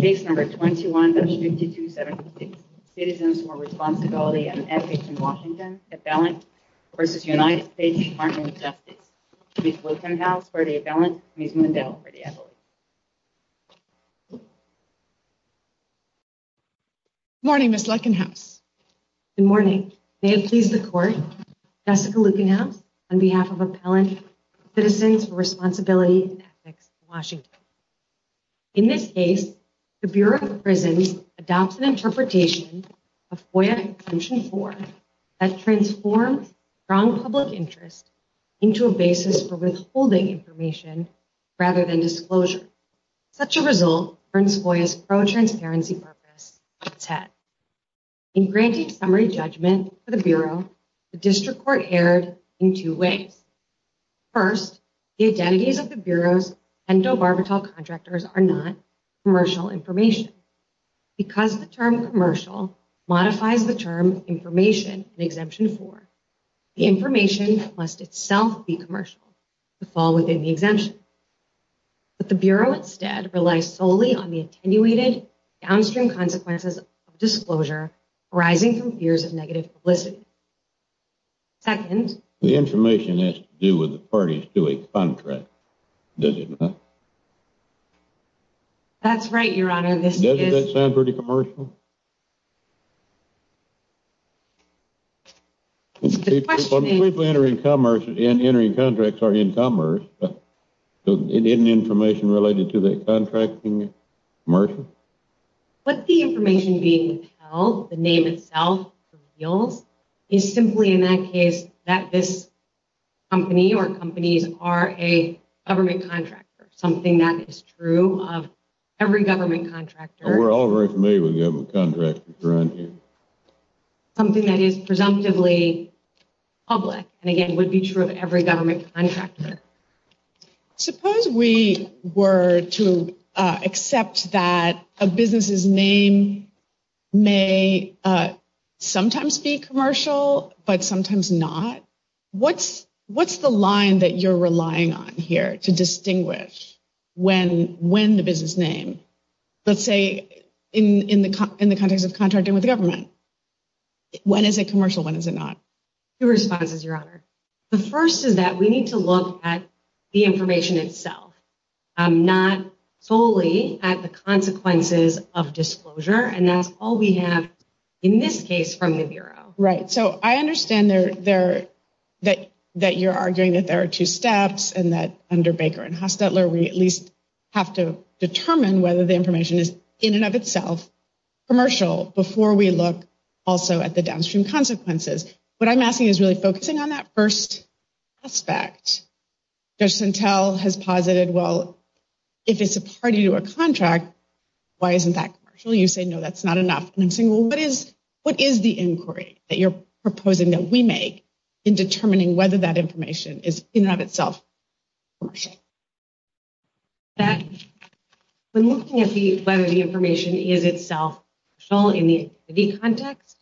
CASE 21-5276 CITIZENS FOR RESPONSIBILITY AND ETHICS IN WASHINGTON APPELLANT v. UNITED STATES DEPARTMENT OF JUSTICE MS. LUCKINHOUSE FOR THE APPELLANT MS. MUNDELL FOR THE APPELLATE Good morning, Ms. Luckinhouse. Good morning. May it please the Court, Jessica Luckinhouse, on behalf of Appellant Citizens for Responsibility and Ethics in Washington. In this case, the Bureau of Prisons adopts an interpretation of FOIA Exemption 4 that transforms strong public interest into a basis for withholding information rather than disclosure. Such a result earns FOIA's pro-transparency purpose its head. In granting summary judgment for the Bureau, the District Court erred in two ways. First, the identities of the Bureau's pentobarbital contractors are not commercial information. Because the term commercial modifies the term information in Exemption 4, the information must itself be commercial to fall within the exemption. But the Bureau instead relies solely on the attenuated downstream consequences of disclosure arising from fears of negative publicity. Second. The information has to do with the parties to a contract, does it not? That's right, Your Honor. Doesn't that sound pretty commercial? People entering contracts are in commerce, but isn't information related to that contract commercial? But the information being held, the name itself, the reals, is simply in that case that this company or companies are a government contractor. Something that is true of every government contractor. We're all very familiar with government contractors, Your Honor. Something that is presumptively public, and again would be true of every government contractor. Suppose we were to accept that a business's name may sometimes be commercial, but sometimes not. What's the line that you're relying on here to distinguish when the business name, let's say in the context of contracting with the government, when is it commercial, when is it not? Two responses, Your Honor. The first is that we need to look at the information itself, not solely at the consequences of disclosure, and that's all we have in this case from the Bureau. Right. So I understand that you're arguing that there are two steps and that under Baker and Hostetler we at least have to determine whether the information is in and of itself commercial before we look also at the downstream consequences. What I'm asking is really focusing on that first aspect. Judge Santel has posited, well, if it's a party to a contract, why isn't that commercial? You say, no, that's not enough. And I'm saying, well, what is the inquiry that you're proposing that we make in determining whether that information is in and of itself commercial? When looking at whether the information is itself commercial in the context,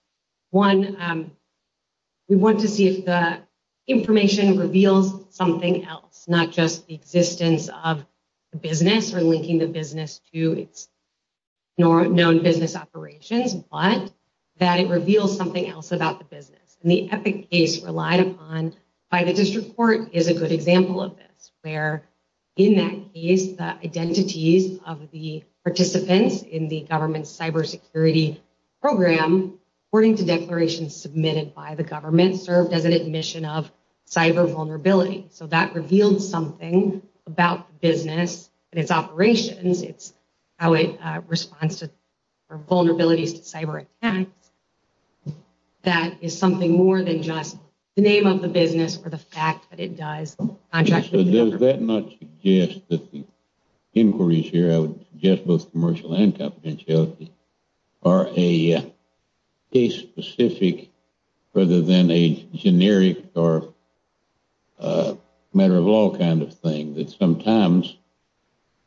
one, we want to see if the information reveals something else, not just the existence of the business or linking the business to its known business operations, but that it reveals something else about the business. And the epic case relied upon by the district court is a good example of this, where in that case, the identities of the participants in the government's cybersecurity program, according to declarations submitted by the government, served as an admission of cyber vulnerability. So that revealed something about the business and its operations. It's how it responds to vulnerabilities to cyber attacks. That is something more than just the name of the business or the fact that it does. Does that not suggest that the inquiries here, I would suggest both commercial and confidentiality, are a case specific rather than a generic or a matter of law kind of thing. That sometimes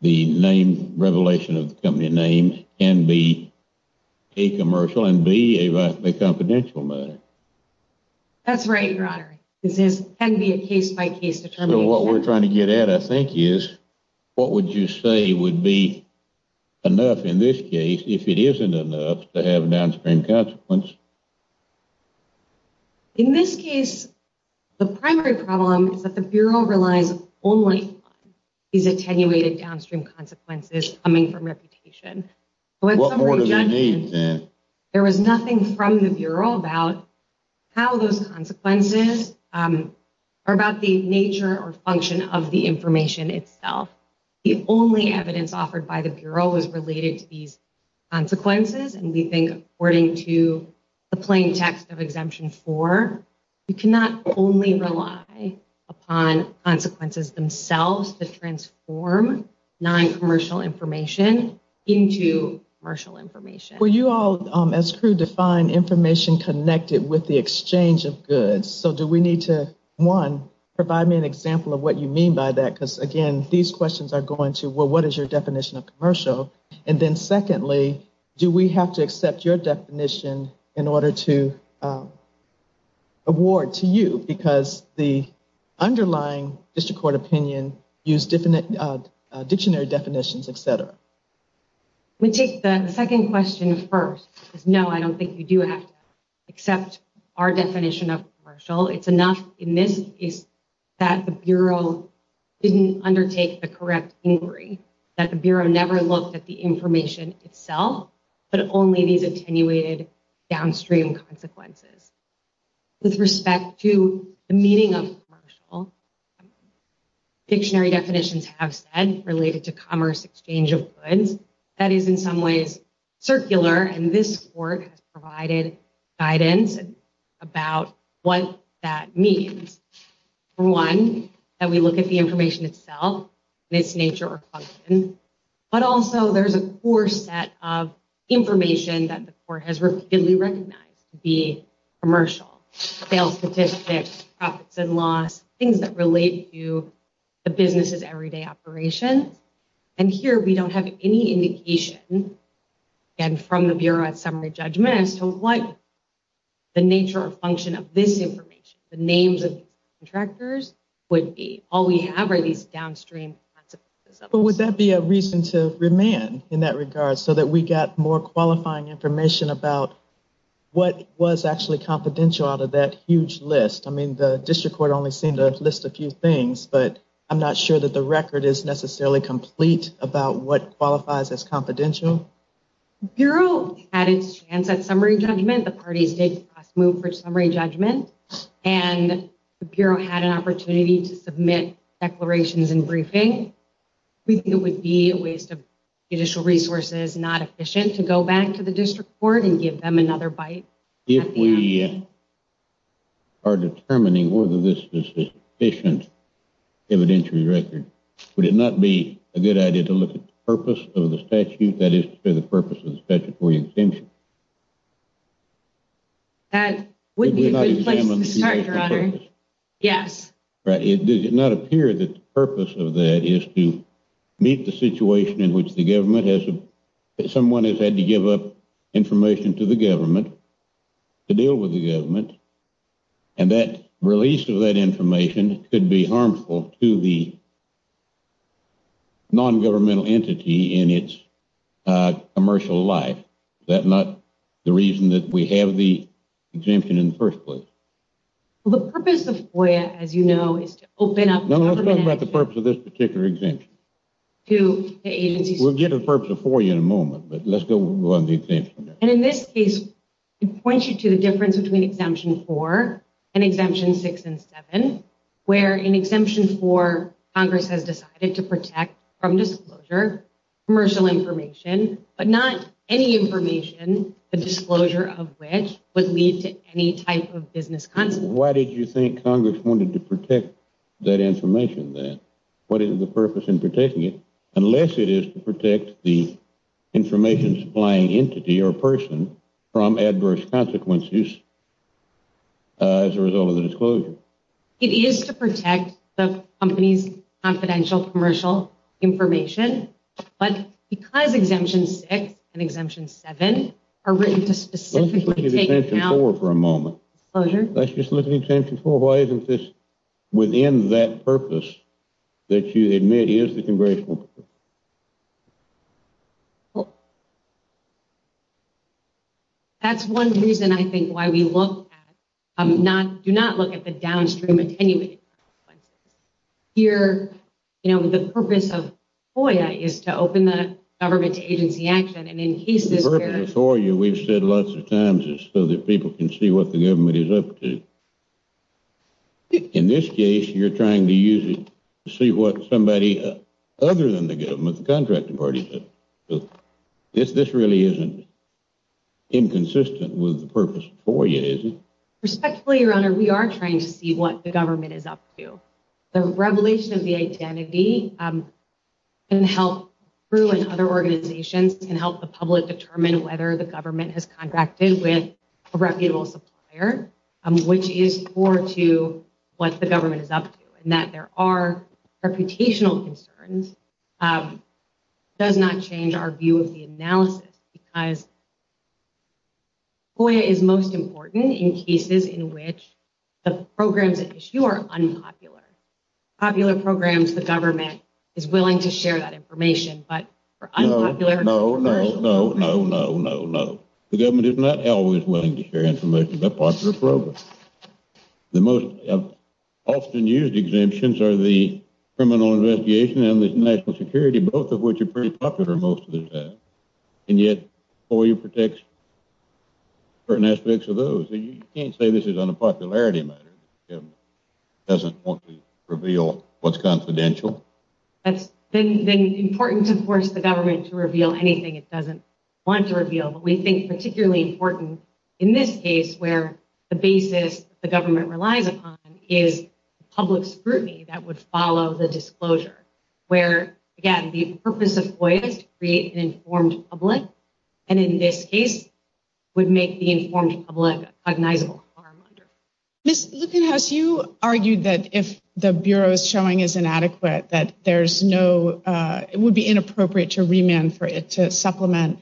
the name revelation of the company name can be a commercial and be a confidential matter. That's right. This is a case by case. So what we're trying to get at, I think, is what would you say would be enough in this case if it isn't enough to have a downstream consequence? In this case, the primary problem is that the Bureau relies only is attenuated downstream consequences coming from reputation. What more do they need then? There was nothing from the Bureau about how those consequences are about the nature or function of the information itself. The only evidence offered by the Bureau was related to these consequences. And we think according to the plain text of Exemption 4, you cannot only rely upon consequences themselves to transform noncommercial information into commercial information. Well, you all, as crew, define information connected with the exchange of goods. So do we need to, one, provide me an example of what you mean by that? Because, again, these questions are going to, well, what is your definition of commercial? And then, secondly, do we have to accept your definition in order to award to you? Because the underlying district court opinion used dictionary definitions, et cetera. We take the second question first. No, I don't think you do have to accept our definition of commercial. It's enough in this case that the Bureau didn't undertake the correct inquiry, that the Bureau never looked at the information itself, but only these attenuated downstream consequences. With respect to the meaning of commercial, dictionary definitions have said related to commerce exchange of goods. That is in some ways circular, and this court has provided guidance about what that means. For one, that we look at the information itself and its nature or function, but also there's a core set of information that the court has repeatedly recognized to be commercial. Sales statistics, profits and loss, things that relate to the business's everyday operations. And here we don't have any indication, again, from the Bureau at summary judgment, as to what the nature or function of this information, the names of these contractors, would be. All we have are these downstream consequences. But would that be a reason to remand in that regard so that we got more qualifying information about what was actually confidential out of that huge list? I mean, the district court only seemed to list a few things, but I'm not sure that the record is necessarily complete about what qualifies as confidential. The Bureau had its chance at summary judgment. The parties did cross move for summary judgment. And the Bureau had an opportunity to submit declarations and briefing. We think it would be a waste of judicial resources, not efficient, to go back to the district court and give them another bite. If we are determining whether this is an efficient evidentiary record, would it not be a good idea to look at the purpose of the statute? That is, for the purpose of the statutory exemption. That would be a good place to start, Your Honor. Yes. Right. It did not appear that the purpose of that is to meet the situation in which the government has someone has had to give up information to the government to deal with the government. And that release of that information could be harmful to the non-governmental entity in its commercial life. That's not the reason that we have the exemption in the first place. Well, the purpose of FOIA, as you know, is to open up... No, let's talk about the purpose of this particular exemption. We'll get to the purpose of FOIA in a moment, but let's go on to the exemption. And in this case, it points you to the difference between Exemption 4 and Exemption 6 and 7, where in Exemption 4, Congress has decided to protect from disclosure commercial information, but not any information, the disclosure of which would lead to any type of business consequence. Why did you think Congress wanted to protect that information then? What is the purpose in protecting it unless it is to protect the information supplying entity or person from adverse consequences as a result of the disclosure? It is to protect the company's confidential commercial information. But because Exemption 6 and Exemption 7 are written to specifically take account... Let's just look at Exemption 4 for a moment. Disclosure? Let's just look at Exemption 4. Why isn't this within that purpose that you admit is the Congressional purpose? That's one reason, I think, why we do not look at the downstream attenuated consequences. Here, the purpose of FOIA is to open the government to agency action, and in cases where... The purpose of FOIA, we've said lots of times, is so that people can see what the government is up to. In this case, you're trying to use it to see what somebody other than the government, the contracting party... This really isn't inconsistent with the purpose of FOIA, is it? Respectfully, Your Honor, we are trying to see what the government is up to. The revelation of the identity can help other organizations, can help the public determine whether the government has contracted with a reputable supplier, which is core to what the government is up to. And that there are reputational concerns does not change our view of the analysis. Because FOIA is most important in cases in which the programs at issue are unpopular. Popular programs, the government is willing to share that information, but for unpopular... No, no, no, no, no, no, no. The government is not always willing to share information about popular programs. The most often used exemptions are the criminal investigation and the national security, both of which are pretty popular most of the time. And yet, FOIA protects certain aspects of those. You can't say this is on a popularity matter. The government doesn't want to reveal what's confidential. It's important to force the government to reveal anything it doesn't want to reveal. But we think particularly important in this case where the basis the government relies upon is public scrutiny that would follow the disclosure. Where, again, the purpose of FOIA is to create an informed public. And in this case, would make the informed public a cognizable harm under FOIA. Ms. Lueckenhaus, you argued that if the Bureau's showing is inadequate, that there's no... It would be inappropriate to remand for it to supplement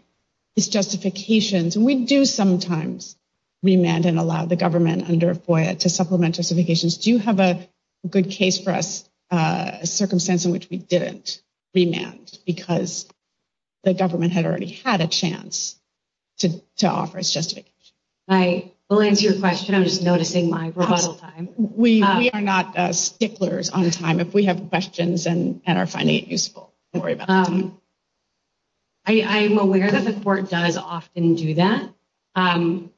its justifications. We do sometimes remand and allow the government under FOIA to supplement justifications. Do you have a good case for us, a circumstance in which we didn't remand because the government had already had a chance to offer its justification? I will answer your question. I'm just noticing my rebuttal time. We are not sticklers on time. If we have questions and are finding it useful, don't worry about it. I'm aware that the court does often do that.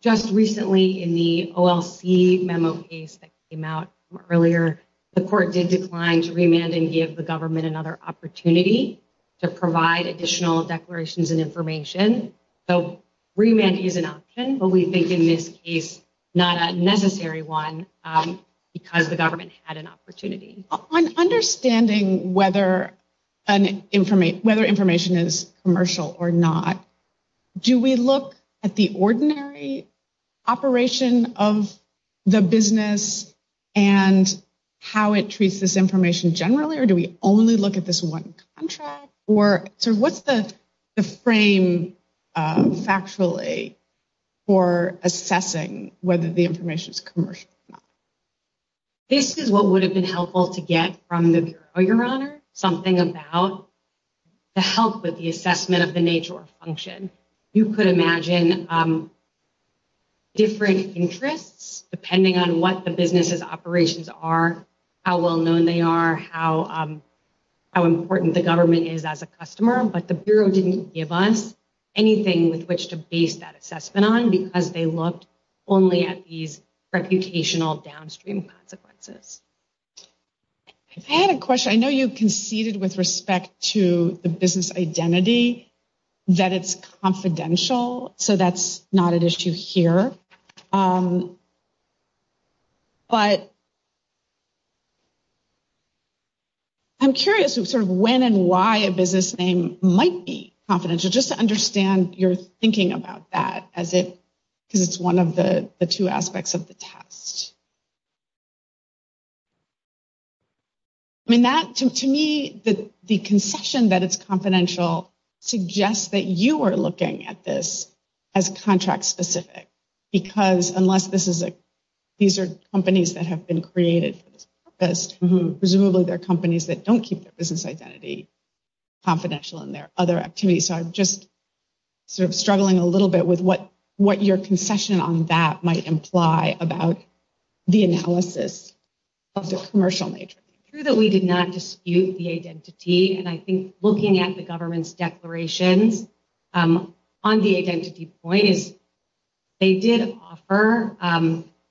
Just recently in the OLC memo case that came out earlier, the court did decline to remand and give the government another opportunity to provide additional declarations and information. So remand is an option, but we think in this case not a necessary one because the government had an opportunity. On understanding whether information is commercial or not, do we look at the ordinary operation of the business and how it treats this information generally? Or do we only look at this one contract? What's the frame factually for assessing whether the information is commercial or not? This is what would have been helpful to get from the Bureau, Your Honor, something about the help with the assessment of the nature or function. You could imagine different interests depending on what the business's operations are, how well known they are, how important the government is as a customer. But the Bureau didn't give us anything with which to base that assessment on because they looked only at these reputational downstream consequences. I had a question. I know you conceded with respect to the business identity that it's confidential, so that's not an issue here. But I'm curious sort of when and why a business name might be confidential, just to understand your thinking about that because it's one of the two aspects of the test. I mean, to me, the concession that it's confidential suggests that you are looking at this as contract-specific. Because unless these are companies that have been created for this purpose, presumably they're companies that don't keep their business identity confidential in their other activities. So I'm just sort of struggling a little bit with what your concession on that might imply about the analysis of the commercial nature. It's true that we did not dispute the identity. And I think looking at the government's declarations on the identity point is they did offer…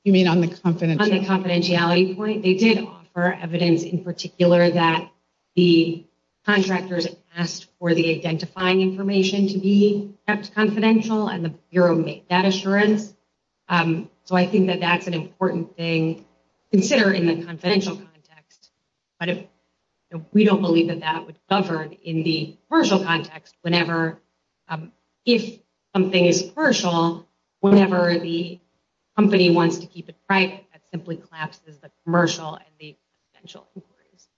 You mean on the confidentiality? On the confidentiality point, they did offer evidence in particular that the contractors asked for the identifying information to be kept confidential, and the Bureau made that assurance. So I think that that's an important thing to consider in the confidential context. But we don't believe that that would govern in the commercial context whenever, if something is commercial, whenever the company wants to keep it private, that simply collapses the commercial and the confidential inquiries.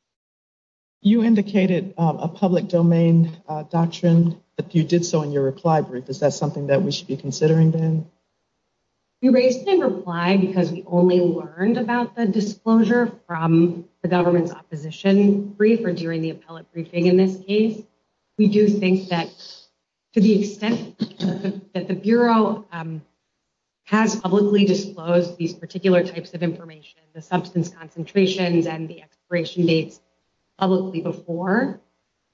You indicated a public domain doctrine that you did so in your reply brief. Is that something that we should be considering then? We raised in reply because we only learned about the disclosure from the government's opposition brief or during the appellate briefing in this case. We do think that to the extent that the Bureau has publicly disclosed these particular types of information, the substance concentrations and the expiration dates publicly before,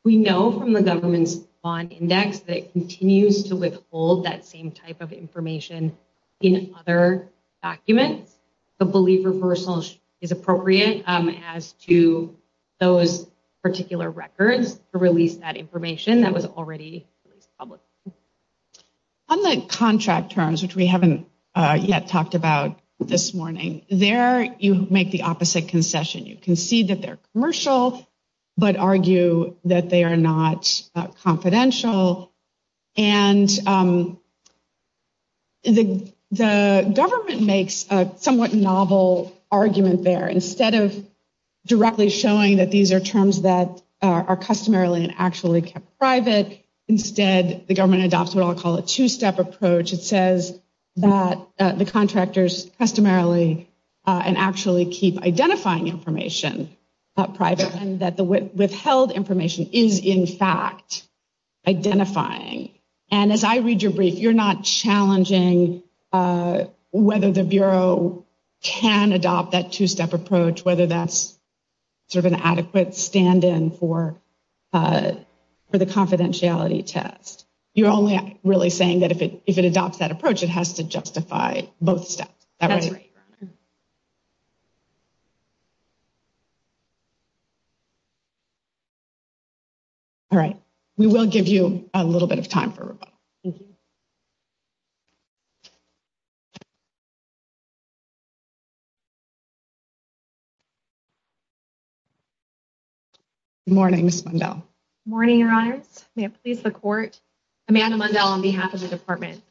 we know from the government's bond index that it continues to withhold that same type of information in other documents. The belief reversal is appropriate as to those particular records to release that information that was already released publicly. On the contract terms, which we haven't yet talked about this morning, there you make the opposite concession. You concede that they're commercial, but argue that they are not confidential. And the government makes a somewhat novel argument there. Instead of directly showing that these are terms that are customarily and actually kept private, instead the government adopts what I'll call a two-step approach. In which it says that the contractors customarily and actually keep identifying information private and that the withheld information is in fact identifying. And as I read your brief, you're not challenging whether the Bureau can adopt that two-step approach, whether that's sort of an adequate stand-in for the confidentiality test. You're only really saying that if it adopts that approach, it has to justify both steps. That's right. All right, we will give you a little bit of time for rebuttal. Thank you. Good morning, Ms. Mundell. Good morning, Your Honors. May it please the Court. Amanda Mundell on behalf of the Department.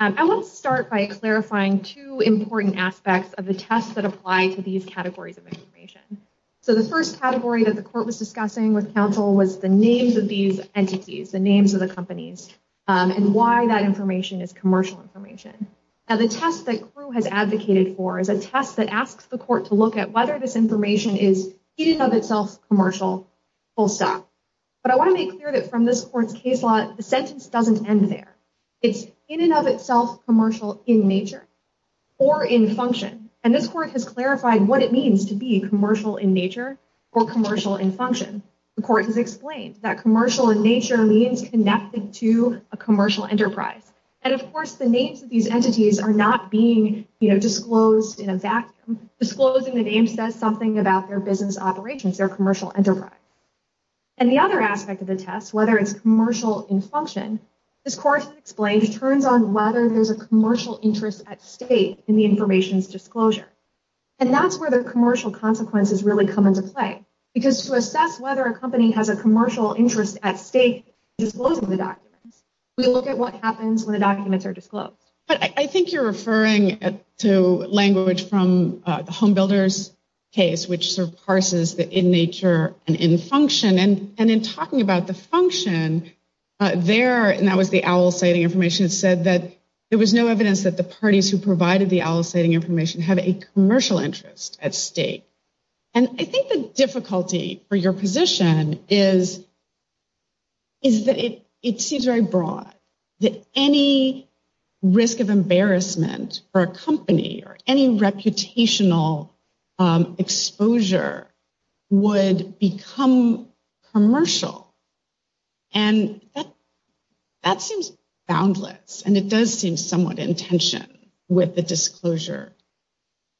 I want to start by clarifying two important aspects of the tests that apply to these categories of information. So the first category that the Court was discussing with counsel was the names of these entities, the names of the companies, and why that information is commercial information. Now, the test that CREW has advocated for is a test that asks the Court to look at whether this information is in and of itself commercial, full stop. But I want to make clear that from this Court's case law, the sentence doesn't end there. It's in and of itself commercial in nature or in function. And this Court has clarified what it means to be commercial in nature or commercial in function. The Court has explained that commercial in nature means connected to a commercial enterprise. And, of course, the names of these entities are not being disclosed in a vacuum. Disclosing the names says something about their business operations, their commercial enterprise. And the other aspect of the test, whether it's commercial in function, this Court explains turns on whether there's a commercial interest at stake in the information's disclosure. And that's where the commercial consequences really come into play. Because to assess whether a company has a commercial interest at stake in disclosing the documents, we look at what happens when the documents are disclosed. But I think you're referring to language from the Home Builders case, which sort of parses the in nature and in function. And in talking about the function there, and that was the owl-citing information, it said that there was no evidence that the parties who provided the owl-citing information had a commercial interest at stake. And I think the difficulty for your position is that it seems very broad that any risk of embarrassment for a company or any reputational exposure would become commercial. And that seems boundless. And it does seem somewhat in tension with the disclosure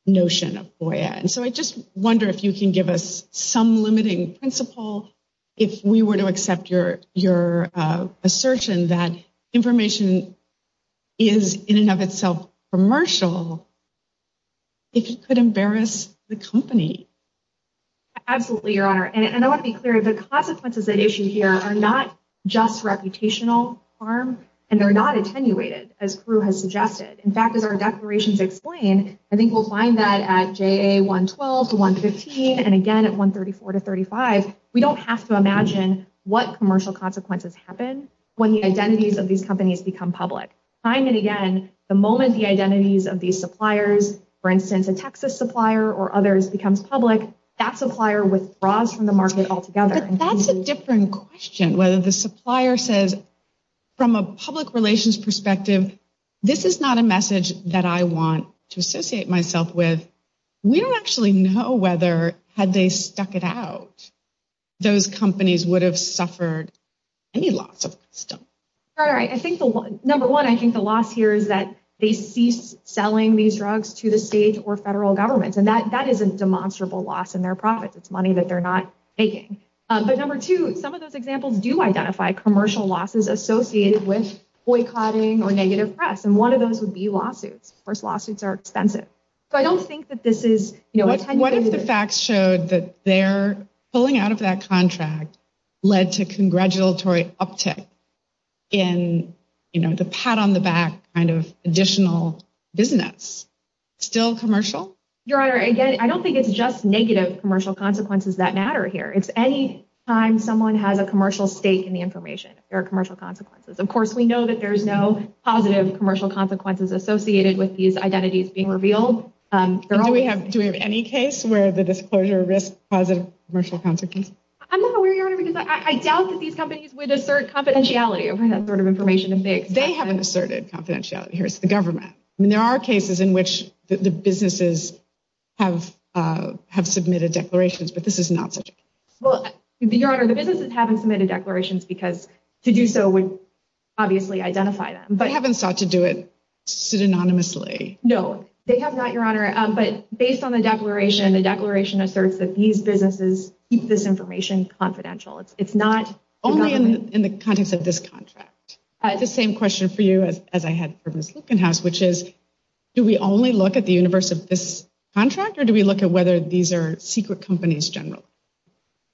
notion of FOIA. And so I just wonder if you can give us some limiting principle, if we were to accept your assertion that information is in and of itself commercial, if you could embarrass the company. Absolutely, Your Honor. And I want to be clear, the consequences at issue here are not just reputational harm, and they're not attenuated, as Caru has suggested. In fact, as our declarations explain, I think we'll find that at JA 112 to 115, and again at 134 to 135, we don't have to imagine what commercial consequences happen when the identities of these companies become public. Time and again, the moment the identities of these suppliers, for instance, a Texas supplier or others, becomes public, that supplier withdraws from the market altogether. But that's a different question, whether the supplier says, from a public relations perspective, this is not a message that I want to associate myself with. We don't actually know whether, had they stuck it out, those companies would have suffered any loss of custom. All right. Number one, I think the loss here is that they cease selling these drugs to the state or federal governments. And that is a demonstrable loss in their profits. It's money that they're not making. But number two, some of those examples do identify commercial losses associated with boycotting or negative press. And one of those would be lawsuits. Of course, lawsuits are expensive. So I don't think that this is – What if the facts showed that their pulling out of that contract led to congratulatory uptick in the pat on the back kind of additional business? Still commercial? Your Honor, again, I don't think it's just negative commercial consequences that matter here. It's any time someone has a commercial stake in the information, there are commercial consequences. Of course, we know that there's no positive commercial consequences associated with these identities being revealed. Do we have any case where the disclosure risks positive commercial consequences? I'm not aware, Your Honor, because I doubt that these companies would assert confidentiality over that sort of information. They haven't asserted confidentiality. Here's the government. I mean, there are cases in which the businesses have submitted declarations, but this is not such a case. Well, Your Honor, the businesses haven't submitted declarations because to do so would obviously identify them. They haven't sought to do it synonymously. No, they have not, Your Honor. But based on the declaration, the declaration asserts that these businesses keep this information confidential. It's not the government. Only in the context of this contract. The same question for you as I had for Ms. Lueckenhaus, which is, do we only look at the universe of this contract, or do we look at whether these are secret companies generally?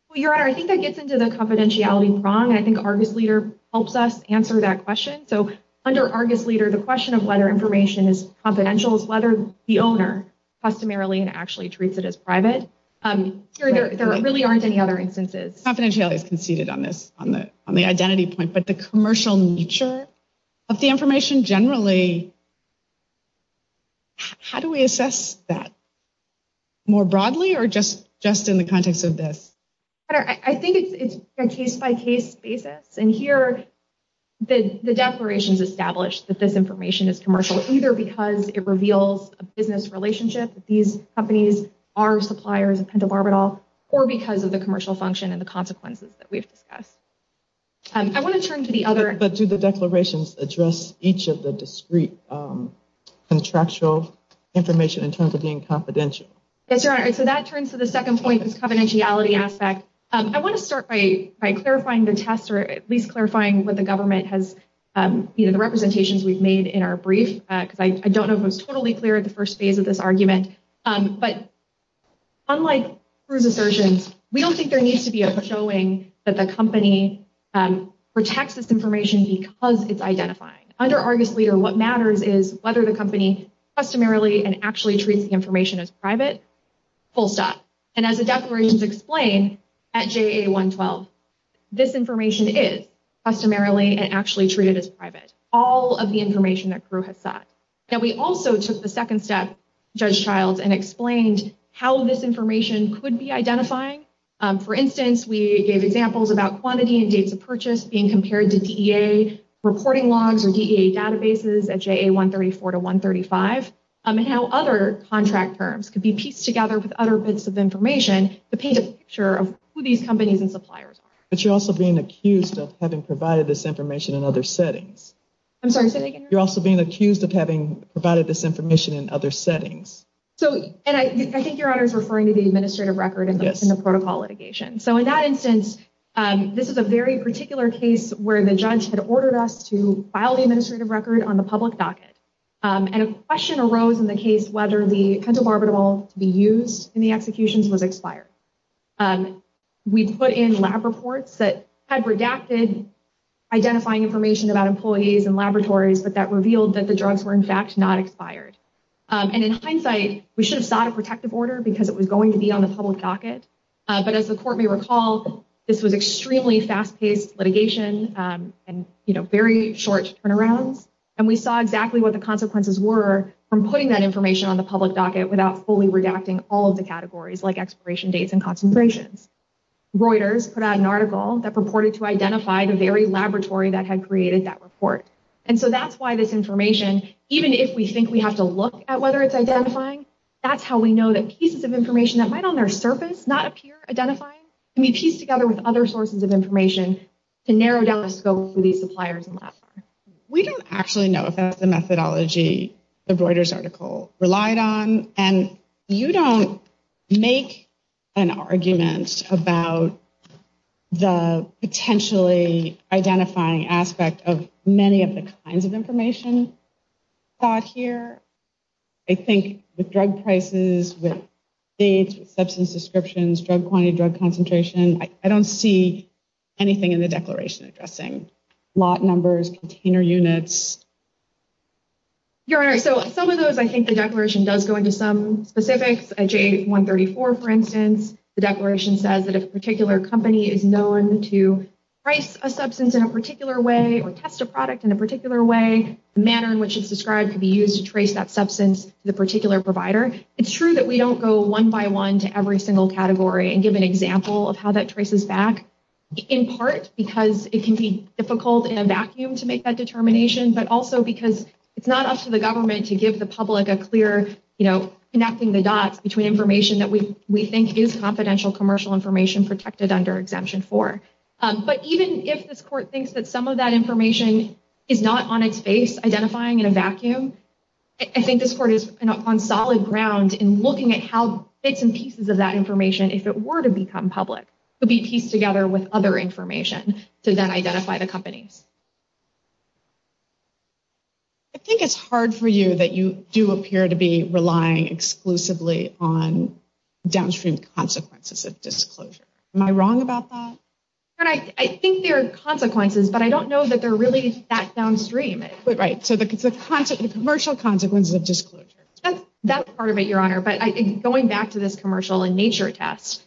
Well, Your Honor, I think that gets into the confidentiality prong. I think Argus Leader helps us answer that question. So under Argus Leader, the question of whether information is confidential is whether the owner customarily and actually treats it as private. There really aren't any other instances. Confidentiality is conceded on this, on the identity point. But the commercial nature of the information generally, how do we assess that? More broadly or just in the context of this? Your Honor, I think it's a case-by-case basis. And here, the declarations establish that this information is commercial, either because it reveals a business relationship that these companies are suppliers of pentobarbital or because of the commercial function and the consequences that we've discussed. I want to turn to the other. But do the declarations address each of the discrete contractual information in terms of being confidential? Yes, Your Honor. So that turns to the second point, this confidentiality aspect. I want to start by clarifying the test or at least clarifying what the government has, either the representations we've made in our brief, because I don't know if it was totally clear at the first phase of this argument. But unlike Crew's assertions, we don't think there needs to be a showing that the company protects this information because it's identified. Under Argus Leader, what matters is whether the company customarily and actually treats the information as private, full stop. And as the declarations explain at JA 112, this information is customarily and actually treated as private, all of the information that Crew has sought. Now, we also took the second step, Judge Childs, and explained how this information could be identifying. For instance, we gave examples about quantity and dates of purchase being compared to DEA reporting logs or DEA databases at JA 134 to 135 and how other contract terms could be pieced together with other bits of information to paint a picture of who these companies and suppliers are. But you're also being accused of having provided this information in other settings. I'm sorry, say that again. You're also being accused of having provided this information in other settings. And I think Your Honor is referring to the administrative record in the protocol litigation. So in that instance, this is a very particular case where the judge had ordered us to file the administrative record on the public docket. And a question arose in the case whether the pentobarbital to be used in the executions was expired. We put in lab reports that had redacted identifying information about employees and laboratories, but that revealed that the drugs were, in fact, not expired. And in hindsight, we should have sought a protective order because it was going to be on the public docket. But as the court may recall, this was extremely fast-paced litigation and, you know, very short turnarounds. And we saw exactly what the consequences were from putting that information on the public docket without fully redacting all of the categories like expiration dates and concentrations. Reuters put out an article that purported to identify the very laboratory that had created that report. And so that's why this information, even if we think we have to look at whether it's identifying, that's how we know that pieces of information that might on their surface not appear identifying can be pieced together with other sources of information to narrow down the scope for these suppliers and labs. We don't actually know if that's the methodology the Reuters article relied on. And you don't make an argument about the potentially identifying aspect of many of the kinds of information thought here. I think with drug prices, with dates, with substance descriptions, drug quantity, drug concentration, I don't see anything in the declaration addressing lot numbers, container units. Your Honor, so some of those I think the declaration does go into some specifics. At J134, for instance, the declaration says that if a particular company is known to price a substance in a particular way or test a product in a particular way, the manner in which it's described could be used to trace that substance to the particular provider. It's true that we don't go one by one to every single category and give an example of how that traces back, in part because it can be difficult in a vacuum to make that determination. But also because it's not up to the government to give the public a clear, you know, connecting the dots between information that we think is confidential commercial information protected under Exemption 4. But even if this court thinks that some of that information is not on its face identifying in a vacuum, I think this court is on solid ground in looking at how bits and pieces of that information, if it were to become public, could be pieced together with other information to then identify the companies. I think it's hard for you that you do appear to be relying exclusively on downstream consequences of disclosure. Am I wrong about that? I think there are consequences, but I don't know that they're really that downstream. Right, so the commercial consequences of disclosure. That's part of it, Your Honor, but going back to this commercial in nature test,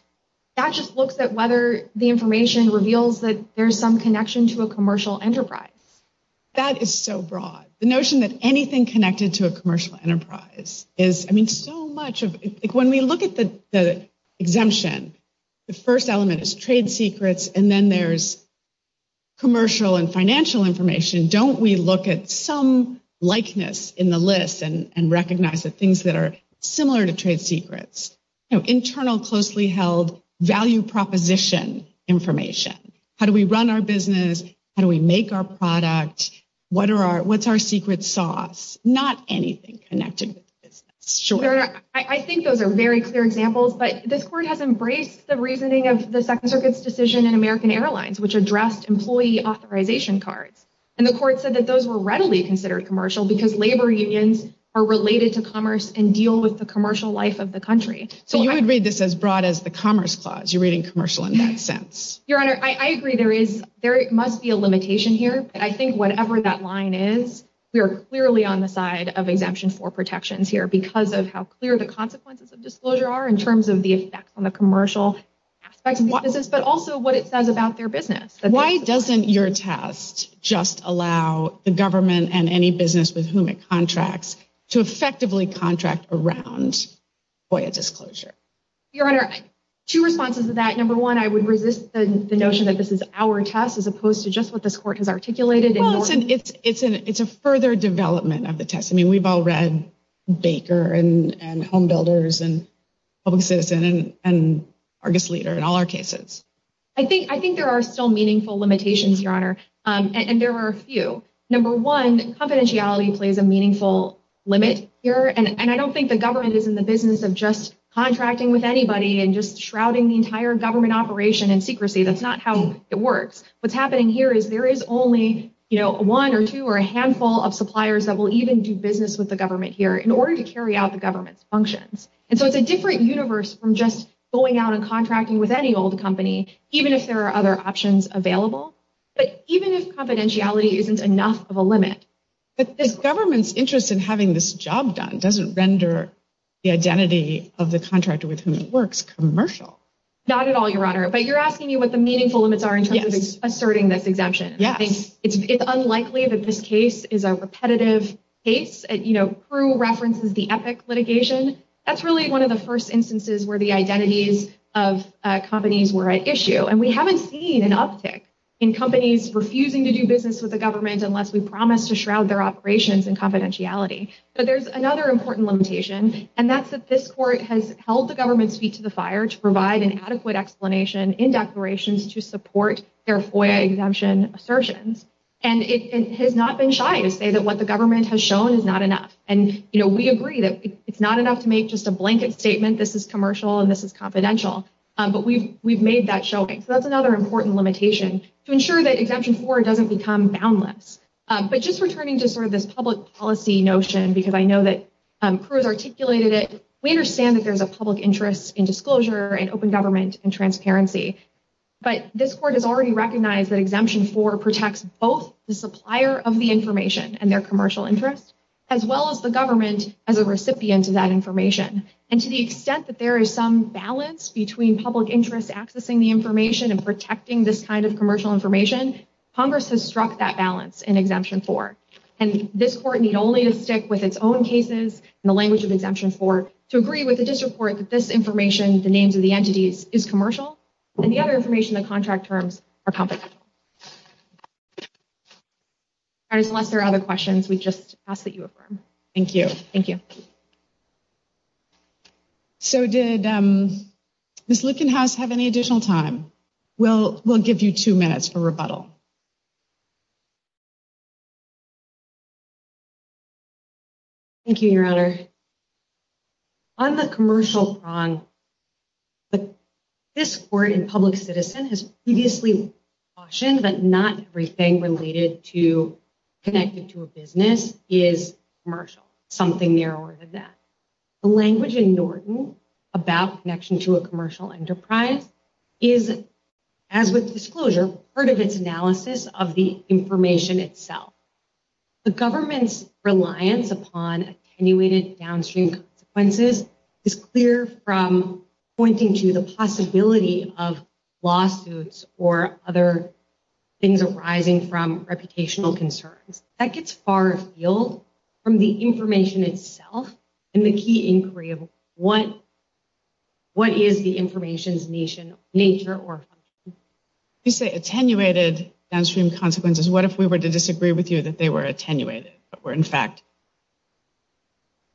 that just looks at whether the information reveals that there's some connection to a commercial enterprise. That is so broad. The notion that anything connected to a commercial enterprise is, I mean, so much of it. When we look at the exemption, the first element is trade secrets, and then there's commercial and financial information. Don't we look at some likeness in the list and recognize the things that are similar to trade secrets? Internal, closely held value proposition information. How do we run our business? How do we make our product? What's our secret sauce? Not anything connected with the business. I think those are very clear examples, but this court has embraced the reasoning of the Second Circuit's decision in American Airlines, which addressed employee authorization cards. And the court said that those were readily considered commercial because labor unions are related to commerce and deal with the commercial life of the country. So you would read this as broad as the Commerce Clause. You're reading commercial in that sense. Your Honor, I agree. There must be a limitation here, but I think whatever that line is, we are clearly on the side of exemption for protections here because of how clear the consequences of disclosure are in terms of the effects on the commercial aspects of the business, but also what it says about their business. Why doesn't your test just allow the government and any business with whom it contracts to effectively contract around FOIA disclosure? Your Honor, two responses to that. Number one, I would resist the notion that this is our test as opposed to just what this court has articulated. Well, it's a further development of the test. I mean, we've all read Baker and Home Builders and Public Citizen and Argus Leader in all our cases. I think there are still meaningful limitations, Your Honor, and there are a few. Number one, confidentiality plays a meaningful limit here, and I don't think the government is in the business of just contracting with anybody and just shrouding the entire government operation in secrecy. That's not how it works. What's happening here is there is only one or two or a handful of suppliers that will even do business with the government here in order to carry out the government's functions. And so it's a different universe from just going out and contracting with any old company, even if there are other options available, but even if confidentiality isn't enough of a limit. But the government's interest in having this job done doesn't render the identity of the contractor with whom it works commercial. Not at all, Your Honor. But you're asking me what the meaningful limits are in terms of asserting this exemption. Yes. It's unlikely that this case is a repetitive case. You know, Pru references the Epic litigation. That's really one of the first instances where the identities of companies were at issue, and we haven't seen an uptick in companies refusing to do business with the government unless we promise to shroud their operations in confidentiality. But there's another important limitation, and that's that this court has held the government's feet to the fire to provide an adequate explanation in declarations to support their FOIA exemption assertions. And it has not been shy to say that what the government has shown is not enough. And, you know, we agree that it's not enough to make just a blanket statement, this is commercial and this is confidential. But we've made that showing. So that's another important limitation to ensure that Exemption 4 doesn't become boundless. But just returning to sort of this public policy notion, because I know that Pru has articulated it, we understand that there's a public interest in disclosure and open government and transparency. But this court has already recognized that Exemption 4 protects both the supplier of the information and their commercial interest, as well as the government as a recipient of that information. And to the extent that there is some balance between public interest accessing the information and protecting this kind of commercial information, Congress has struck that balance in Exemption 4. And this court need only to stick with its own cases in the language of Exemption 4 to agree with the district court that this information, the names of the entities, is commercial, and the other information, the contract terms, are confidential. All right, unless there are other questions, we just ask that you affirm. Thank you. Thank you. So did Ms. Lickenhouse have any additional time? We'll give you two minutes for rebuttal. Thank you, Your Honor. On the commercial prong, this court in Public Citizen has previously cautioned that not everything related to a business is commercial, something narrower than that. The language in Norton about connection to a commercial enterprise is, as with disclosure, part of its analysis of the information itself. The government's reliance upon attenuated downstream consequences is clear from pointing to the possibility of lawsuits or other things arising from reputational concerns. That gets far afield from the information itself and the key inquiry of what is the information's nature or function. You say attenuated downstream consequences. What if we were to disagree with you that they were attenuated but were, in fact,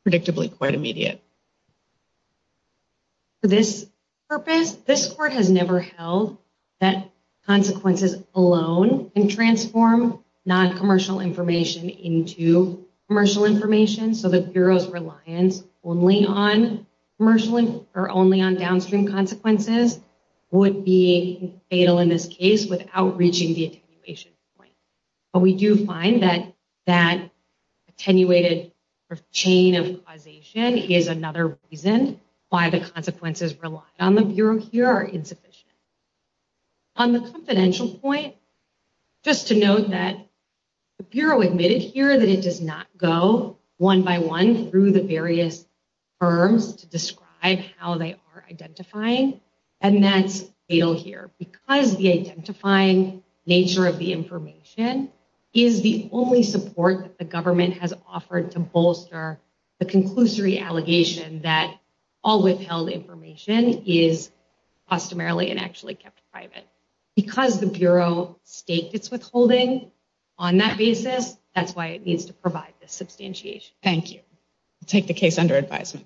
predictably quite immediate? For this purpose, this court has never held that consequences alone can transform non-commercial information into commercial information, so the Bureau's reliance only on downstream consequences would be fatal in this case without reaching the attenuation point. We do find that that attenuated chain of causation is another reason why the consequences relied on the Bureau here are insufficient. On the confidential point, just to note that the Bureau admitted here that it does not go one by one through the various firms to describe how they are identifying, and that's fatal here. Because the identifying nature of the information is the only support that the government has offered to bolster the conclusory allegation that all withheld information is customarily and actually kept private. Because the Bureau staked its withholding on that basis, that's why it needs to provide this substantiation. Thank you. I'll take the case under advisement.